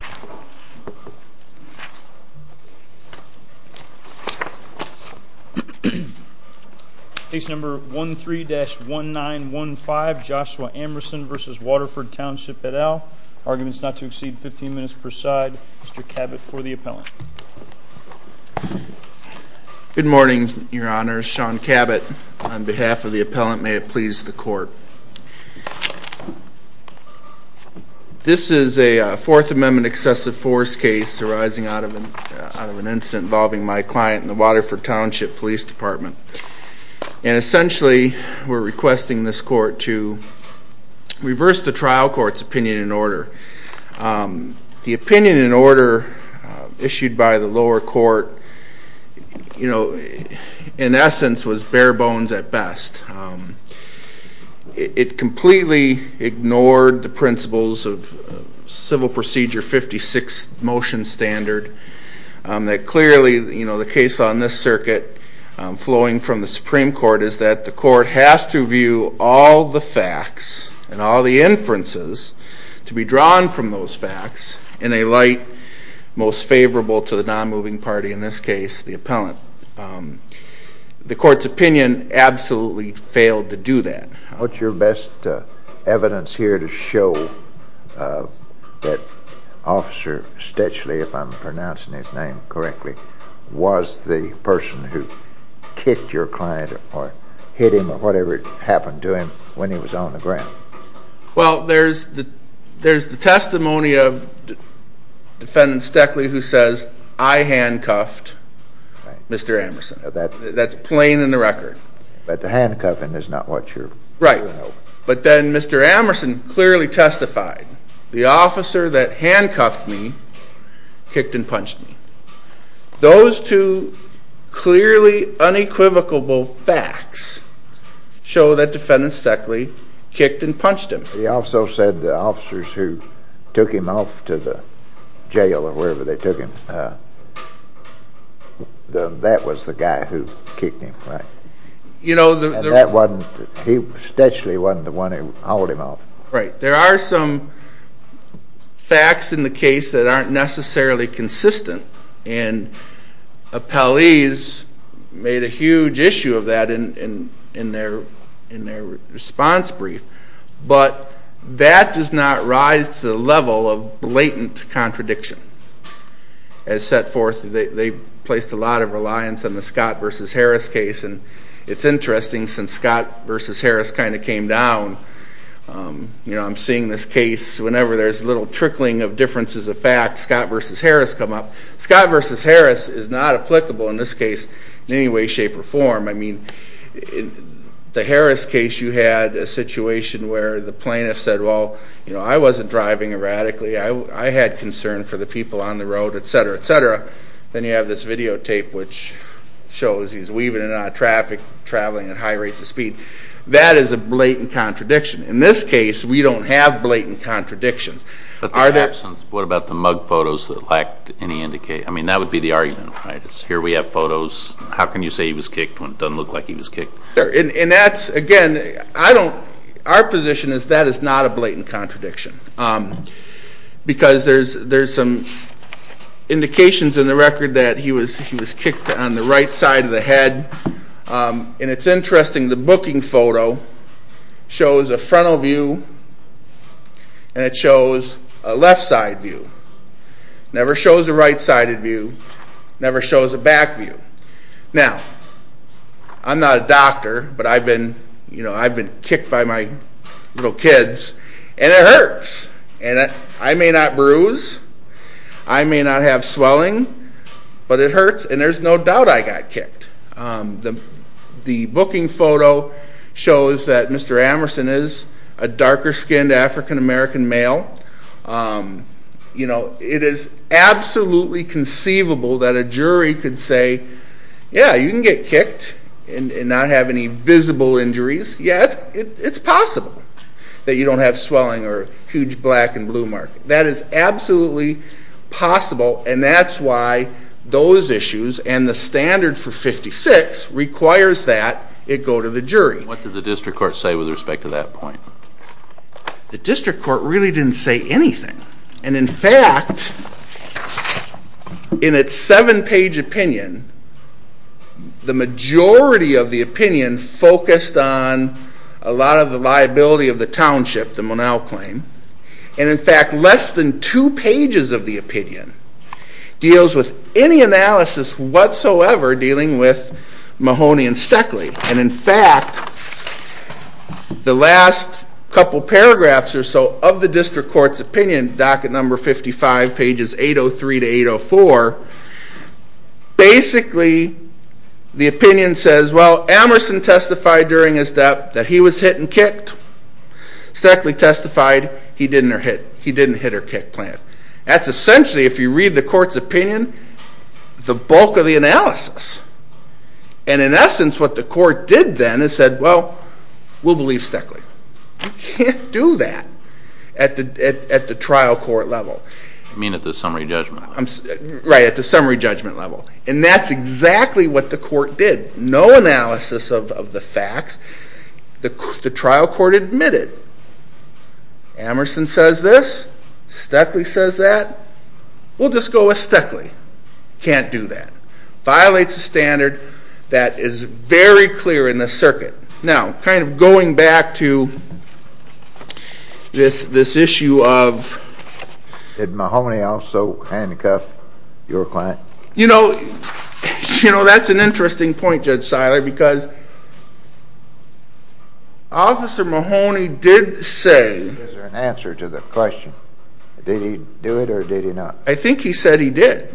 et al. Arguments not to exceed 15 minutes per side. Mr. Cabot for the appellant. Good morning, your Honor. Sean Cabot on behalf of the appellant. May it please the Court. This is a Fourth Amendment exception to the United States Constitution. The United States Excessive Force case arising out of an incident involving my client and the Waterford Township Police Department. And essentially we're requesting this Court to reverse the trial court's opinion in order. The opinion in order issued by the lower court, you know, in essence was bare bones at best. It completely ignored the principles of Civil Procedure 15-B. It completely ignored the 156 motion standard. That clearly, you know, the case on this circuit flowing from the Supreme Court is that the Court has to view all the facts and all the inferences to be drawn from those facts in a light most favorable to the non-moving party, in this case the appellant. The Court's opinion absolutely failed to do that. What's your best evidence here to show that Officer Stetchley, if I'm pronouncing his name correctly, was the person who kicked your client or hit him or whatever happened to him when he was on the ground? Well, there's the testimony of Defendant Stetchley who says, I handcuffed Mr. Amerson. That's plain in the record. But the handcuffing is not what you're... Right. But then Mr. Amerson clearly testified, the officer that handcuffed me kicked and punched me. Those two clearly unequivocal facts show that Defendant Stetchley kicked and punched him. He also said the officers who took him off to the jail or wherever they took him, that was the guy who kicked him. And Stetchley wasn't the one who hauled him off. There are some facts in the case that aren't necessarily consistent, and appellees made a huge issue of that in their response brief. But that does not rise to the level of blatant contradiction. As set forth, they placed a lot of reliance on the Scott v. Harris case. And it's interesting, since Scott v. Harris kind of came down, I'm seeing this case, whenever there's a little trickling of differences of fact, Scott v. Harris come up. Scott v. Harris is not applicable in this case in any way, shape, or form. I mean, the Harris case, you had a situation where the plaintiff said, well, I wasn't driving erratically. I had concern for the people on the road, et cetera, et cetera. Then you have this videotape which shows he's weaving in and out of traffic, traveling at high rates of speed. That is a blatant contradiction. In this case, we don't have blatant contradictions. But in that absence, what about the mug photos that lacked any indication? I mean, that would be the argument, right? Here we have photos. How can you say he was kicked when it doesn't look like he was kicked? And that's, again, I don't, our position is that is not a blatant contradiction. Because there's some indications in the record that he was kicked on the right side of the head. And it's interesting, the booking photo shows a frontal view and it shows a left side view. Never shows a right side view, never shows a back view. Now, I'm not a doctor, but I've been kicked by my little kids, and it hurts. And I may not bruise, I may not have swelling, but it hurts and there's no doubt I got kicked. The booking photo shows that Mr. Amerson is a darker skinned African-American male. You know, it is absolutely conceivable that a jury could say, yeah, you can get kicked and not have any visible injuries. Yeah, it's possible that you don't have swelling or huge black and blue marks. That is absolutely possible and that's why those issues and the standard for 56 requires that it go to the jury. What did the district court say with respect to that point? The district court really didn't say anything. And in fact, in its 7 page opinion, the majority of the opinion focused on a lot of the liability of the township, the Monal claim, and in fact less than 2 pages of the opinion deals with any analysis whatsoever dealing with Mahoney and Stoeckle. And in fact, the last couple paragraphs or so of the district court's opinion, docket number 55, pages 803 to 804, basically the opinion says, well, Amerson testified during his death that he was hit and kicked. Stoeckle testified he didn't hit her kickplant. That's essentially, if you read the court's opinion, the bulk of the analysis. And in essence what the court did then is said, well, we'll believe Stoeckle. You can't do that at the trial court level. You mean at the summary judgment level? Right, at the summary judgment level. And that's exactly what the court did. No analysis of the facts. The trial court admitted, Amerson says this, Stoeckle says that, and that's what the court did. Amerson says that, we'll just go with Stoeckle. Can't do that. Violates a standard that is very clear in the circuit. Now, kind of going back to this issue of- Did Mahoney also handcuff your client? You know, that's an interesting point, Judge Seiler, because Officer Mahoney did say- Did he do it or did he not? I think he said he did.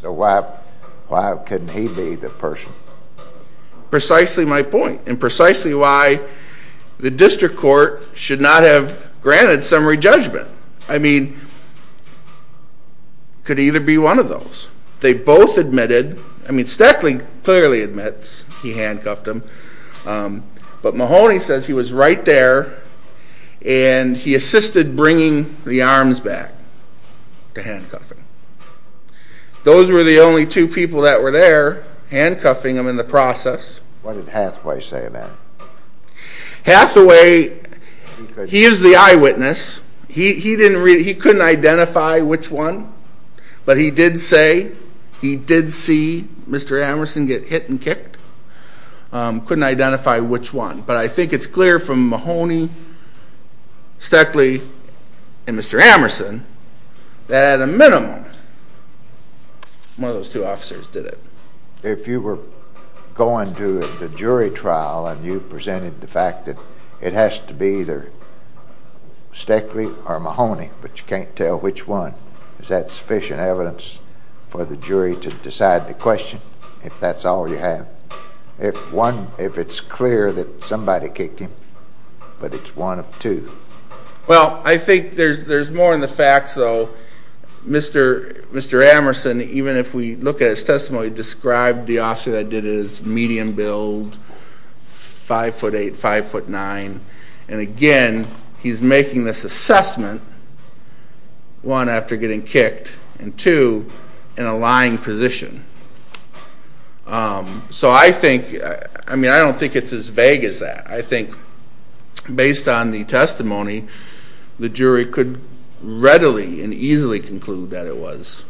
So why couldn't he be the person? Precisely my point, and precisely why the district court should not have granted summary judgment. I mean, could either be one of those. They both admitted, I mean, Stoeckle clearly admits he handcuffed him, but Mahoney says he was right there and he assisted bringing the arms back to handcuffing. Those were the only two people that were there handcuffing him in the process. What did Hathaway say about it? Hathaway, he is the eyewitness. He couldn't identify which one, but he did say he did see Mr. Amerson get hit and kicked. Couldn't identify which one. But I think it's clear from Mahoney, Stoeckle, and Mr. Amerson, that at a minimum, one of those two officers did it. If you were going to the jury trial and you presented the fact that it has to be either Stoeckle or Mahoney, but you can't tell which one, is that sufficient evidence for the jury to decide the question, if that's all you have? If one, if it's clear that somebody kicked him, but it's one of two. Well, I think there's more in the facts, though. Mr. Amerson, even if we look at his testimony, described the officer that did it as medium build, 5'8", 5'9", and again, he's making this assessment, one, after getting kicked, and two, in a lying position. So I think, I mean, I don't think it's as vague as that. I think, based on the testimony, the jury could readily and easily conclude that it was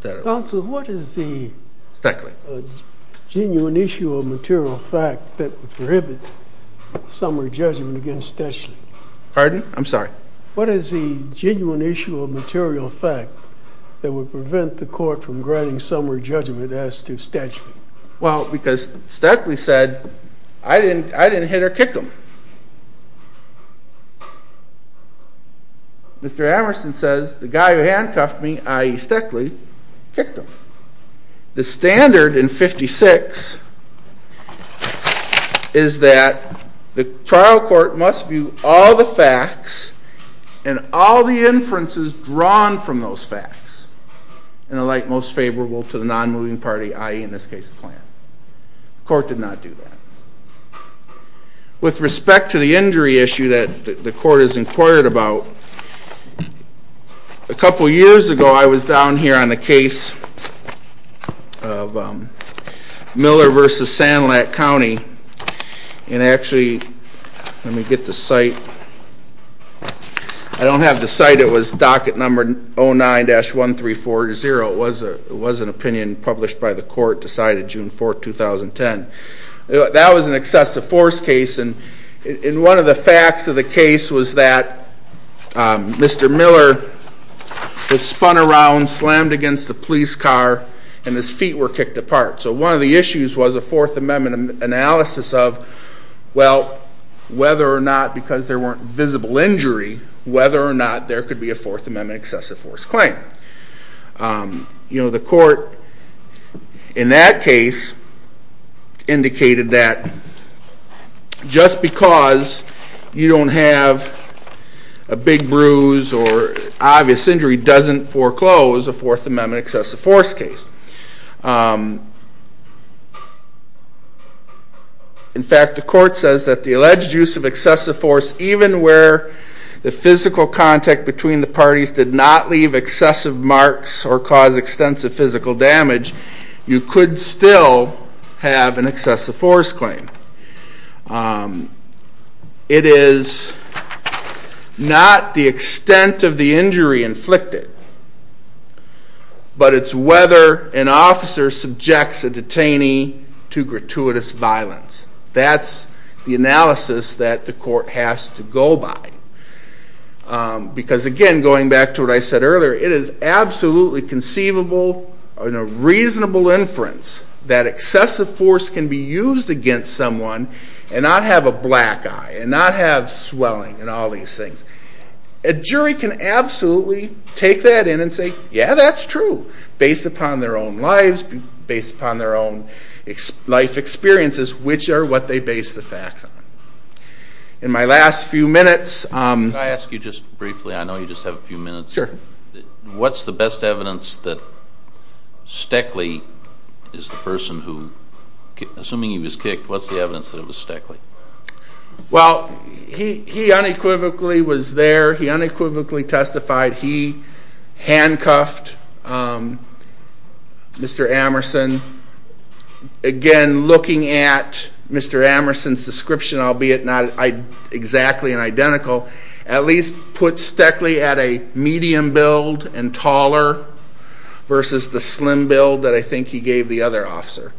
Stoeckle. Counsel, what is the genuine issue of material fact that would prohibit summary judgment against Stoeckle? Pardon? I'm sorry. What is the genuine issue of material fact that would prevent the court from granting summary judgment as to Stoeckle? Well, because Stoeckle said, I didn't hit or kick him. Mr. Amerson says, the guy who handcuffed me, i.e. Stoeckle, kicked him. The standard in 56 is that the trial court must view all the facts and all the inferences drawn from those facts in a light most favorable to the non-moving party, i.e., in this case, the client. The court did not do that. With respect to the injury issue that the court is inquired about, a couple years ago I was down here on the case of Miller v. Sandlack County, and actually, let me get the site, I don't have the site, it was docket number 09-13420. It was an opinion published by the court decided June 4, 2010. That was an excessive force case, and one of the facts of the case was that Mr. Miller was spun around, slammed against the police car, and his feet were kicked apart. So one of the issues was a Fourth Amendment analysis of, well, whether or not because there weren't visible injury, whether or not there could be a Fourth Amendment excessive force claim. The court in that case indicated that just because you don't have a big bruise or obvious injury doesn't foreclose a Fourth Amendment excessive force case. In fact, the force, even where the physical contact between the parties did not leave excessive marks or cause extensive physical damage, you could still have an excessive force claim. It is not the extent of the injury inflicted, but it's whether an officer subjects a detainee to gratuitous violence. That's the analysis that the court has to go by. Because again, going back to what I said earlier, it is absolutely conceivable and a reasonable inference that excessive force can be used against someone and not have a black eye and not have swelling and all these things. A jury can absolutely take that in and say, yeah, that's true, based upon their own lives, based upon their own life experiences, which are what they base the facts on. In my last few minutes... Can I ask you just briefly, I know you just have a few minutes. Sure. What's the best evidence that Steckley is the person who, assuming he was kicked, what's the evidence that it was Steckley? Well, he unequivocally was there, he unequivocally testified, he handcuffed Mr. Amerson. Again, looking at Mr. Amerson's description, albeit not exactly identical, at least puts Steckley at a medium build and taller versus the slim build that I think he gave the other officer.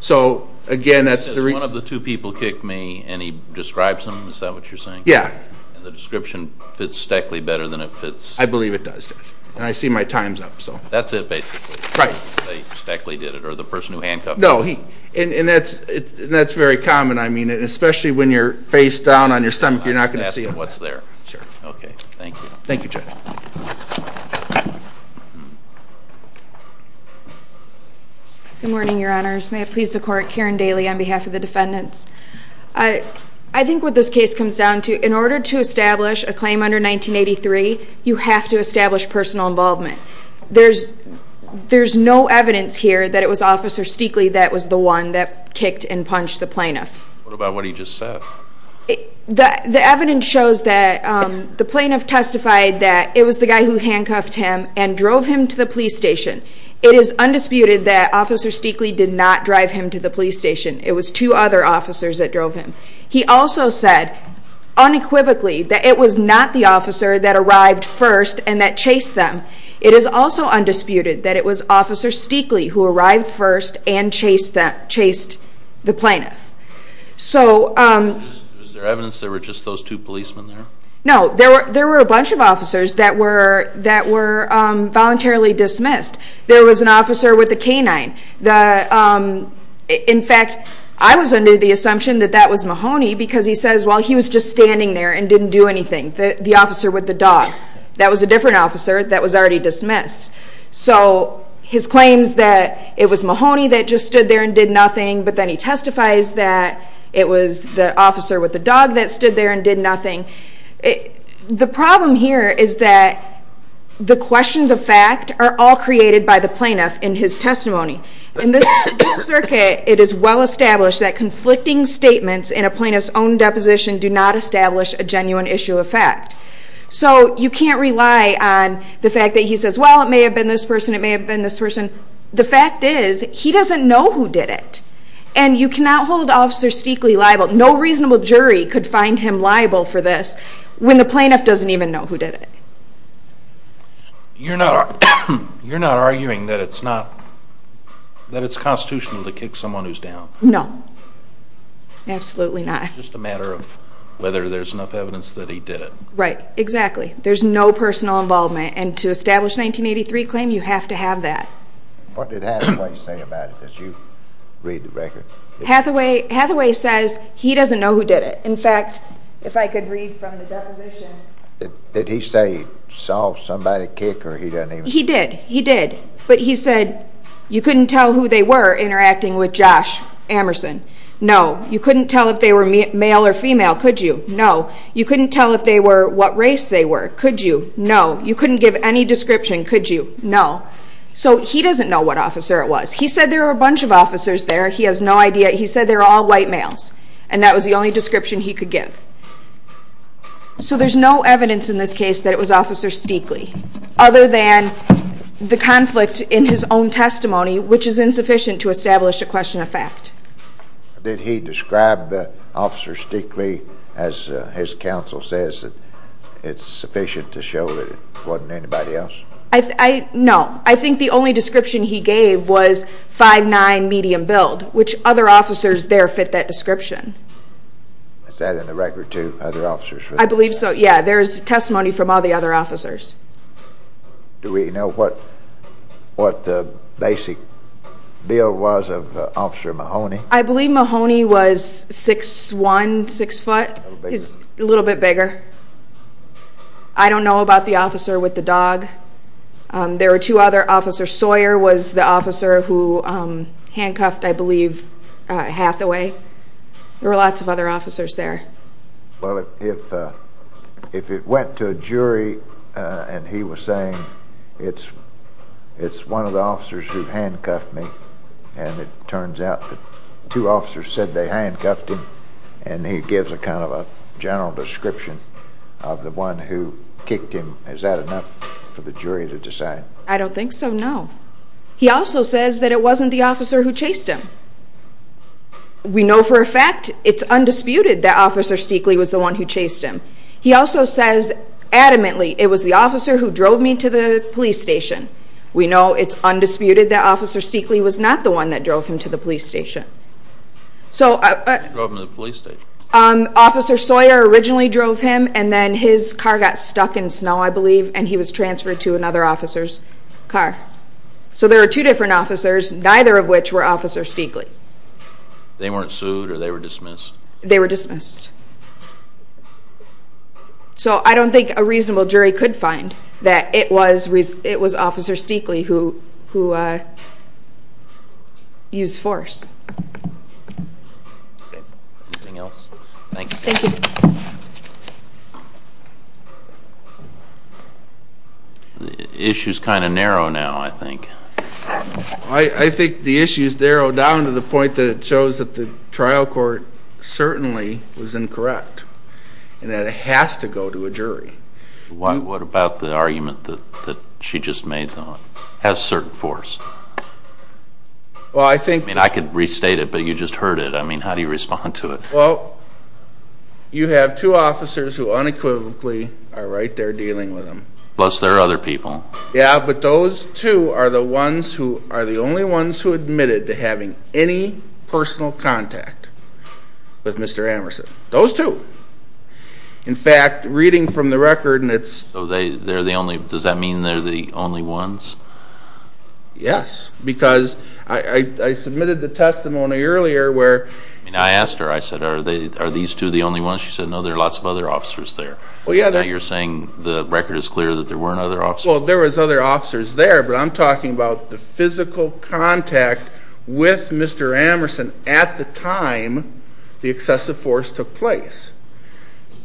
So again, that's the... One of the two people kicked me and he describes him, is that what you're saying? Yeah. And the description fits Steckley better than it fits... I believe it does, Judge, and I see my time's up, so... That's it, basically. Right. They say Steckley did it, or the person who handcuffed him. No, and that's very common, I mean, especially when you're face down on your stomach, you're not going to see it. I'm just asking what's there. Sure. Okay, thank you. Good morning, Your Honors. May it please the Court, Karen Daly on behalf of the Defense Defendants. I think what this case comes down to, in order to establish a claim under 1983, you have to establish personal involvement. There's no evidence here that it was Officer Steckley that was the one that kicked and punched the plaintiff. What about what he just said? The evidence shows that the plaintiff testified that it was the guy who handcuffed him and drove him to the police station. It is undisputed that Officer Steckley did not drive him to the police station. It was two other officers that drove him. He also said, unequivocally, that it was not the officer that arrived first and that chased them. It is also undisputed that it was Officer Steckley who arrived first and chased the plaintiff. Is there evidence there were just those two policemen there? No, there were a bunch of officers that were voluntarily dismissed. There was an officer with a canine. In fact, I was under the assumption that that was Mahoney because he says, well, he was just standing there and didn't do anything. The officer with the dog. That was a different officer that was already dismissed. So his claims that it was Mahoney that just stood there and did nothing, but then he testifies that it was the officer with the dog that stood there and did nothing. The problem here is that the questions of fact are all created by the plaintiff in his testimony. In this circuit, it is well established that conflicting statements in a plaintiff's own deposition do not establish a genuine issue of fact. So you can't rely on the fact that he says, well, it may have been this person, it may have been this person. The fact is, he doesn't know who did it. And you cannot hold Officer Steckley liable. No reasonable jury could find him liable for this when the plaintiff doesn't even know who did it. You're not arguing that it's constitutional to kick someone who's down? No. Absolutely not. It's just a matter of whether there's enough evidence that he did it. Right. Exactly. There's no personal involvement. And to establish a 1983 claim, you have to have that. What did Hathaway say about it? Did you read the record? Hathaway says he doesn't know who did it. In fact, if I could read from the deposition. Did he say he saw somebody kick or he doesn't even know? He did. He did. But he said you couldn't tell who they were interacting with Josh Amerson. No. You couldn't tell if they were male or female, could you? No. You couldn't tell if they were what race they were, could you? No. You couldn't give any description, could you? No. So he doesn't know what officer it was. He said there were a bunch of officers there. He has no idea. He said they're all white males. And that was the only description he could give. So there's no evidence in this case that it was Officer Steakley. Other than the conflict in his own testimony, which is insufficient to establish a question of fact. Did he describe Officer Steakley as his counsel says it's sufficient to show that it wasn't anybody else? No. I think the only description he gave was 5'9", medium build, which other officers there fit that description. Is that in the record too? Other officers? I believe so. Yeah. There's testimony from all the other officers. Do we know what the basic build was of Officer Mahoney? I believe Mahoney was 6'1", 6 foot. A little bit bigger. I don't know about the officer with the dog. There was the officer who handcuffed, I believe, Hathaway. There were lots of other officers there. Well, if it went to a jury and he was saying it's one of the officers who handcuffed me, and it turns out that two officers said they handcuffed him, and he gives a kind of a general description of the one who kicked him. Is that enough for the jury to decide? I don't think so, no. He also says that it wasn't the officer who chased him. We know for a fact it's undisputed that Officer Steakley was the one who chased him. He also says adamantly it was the officer who drove me to the police station. We know it's undisputed that Officer Steakley was not the one that drove him to the police station. Officer Sawyer originally drove him, and then his car got stuck in snow, I believe, and he was transferred to another officer's car. So there are two different officers, neither of which were Officer Steakley. They weren't sued or they were dismissed? They were dismissed. So I don't think a reasonable jury could find that it was Officer Steakley who used force. Anything else? Thank you. The issue is kind of narrow now, I think. I think the issue is narrowed down to the point that it shows that the trial court certainly was incorrect and that it has to go to a jury. What about the argument that she just made, though, has certain force? I could restate it, but you just heard it. I mean, how do you respond to it? Well, you have two officers who unequivocally are right there dealing with him. Plus there are other people. Yeah, but those two are the ones who are the only ones who admitted to having any personal contact with Mr. Amerson. Those two. In fact, reading from the record, it's... So they're the only... I mean, I asked her, I said, are these two the only ones? She said, no, there are lots of other officers there. Now you're saying the record is clear that there weren't other officers? Well, there were other officers there, but I'm talking about the physical contact with Mr. Amerson at the time the excessive force took place.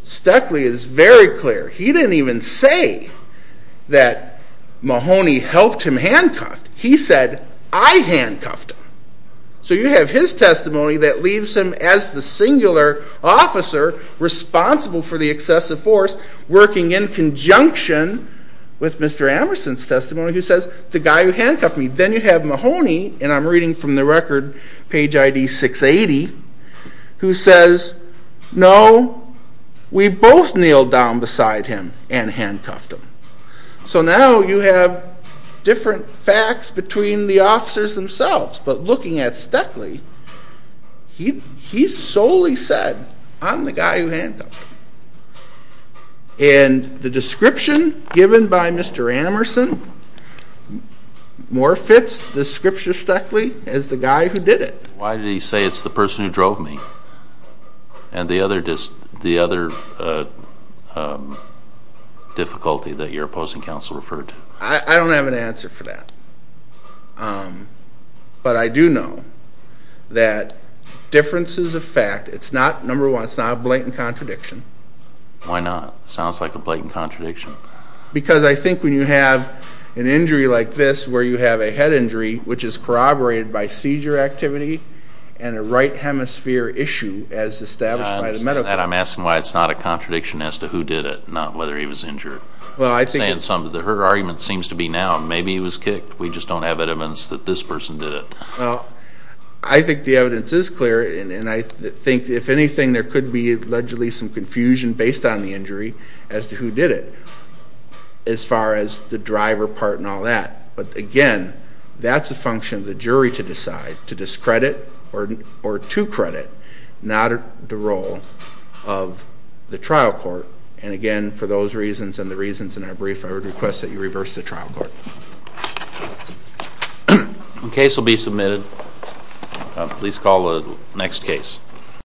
Steakley is very clear. He didn't even say that Mahoney helped him handcuff. He said, I handcuffed him. So you have his testimony that leaves him as the singular officer responsible for the excessive force working in conjunction with Mr. Amerson's testimony who says, the guy who handcuffed me. Then you have Mahoney, and I'm reading from the record, page ID 680, who says, no, we both kneeled down beside him and handcuffed him. So now you have different facts between the officers themselves. But looking at Steakley, he solely said, I'm the guy who handcuffed him. And the description given by Mr. Amerson more fits the scripture Steakley as the guy who did it. Why did he say it's the person who drove me? And the other difficulty that you're opposing counsel referred to? I don't have an answer for that. But I do know that differences of fact, it's not, number one, it's not a blatant contradiction. Why not? Sounds like a blatant contradiction. Because I think when you have an injury like this where you have a head injury, which is corroborated by seizure activity and a right hemisphere issue as established by the medical. I understand that. I'm asking why it's not a contradiction as to who did it, not whether he was injured. Her argument seems to be now, maybe he was kicked. We just don't have evidence that this person did it. Well, I think the evidence is clear, and I think if anything, there could be allegedly some confusion based on the injury as to who did it, as far as the driver part and all that. But again, that's a function of the jury to decide, to discredit or to credit, not the role of the trial court. And again, for those reasons and the reasons in our brief, I would request that you reverse the trial court. Case will be submitted. Please call the next case.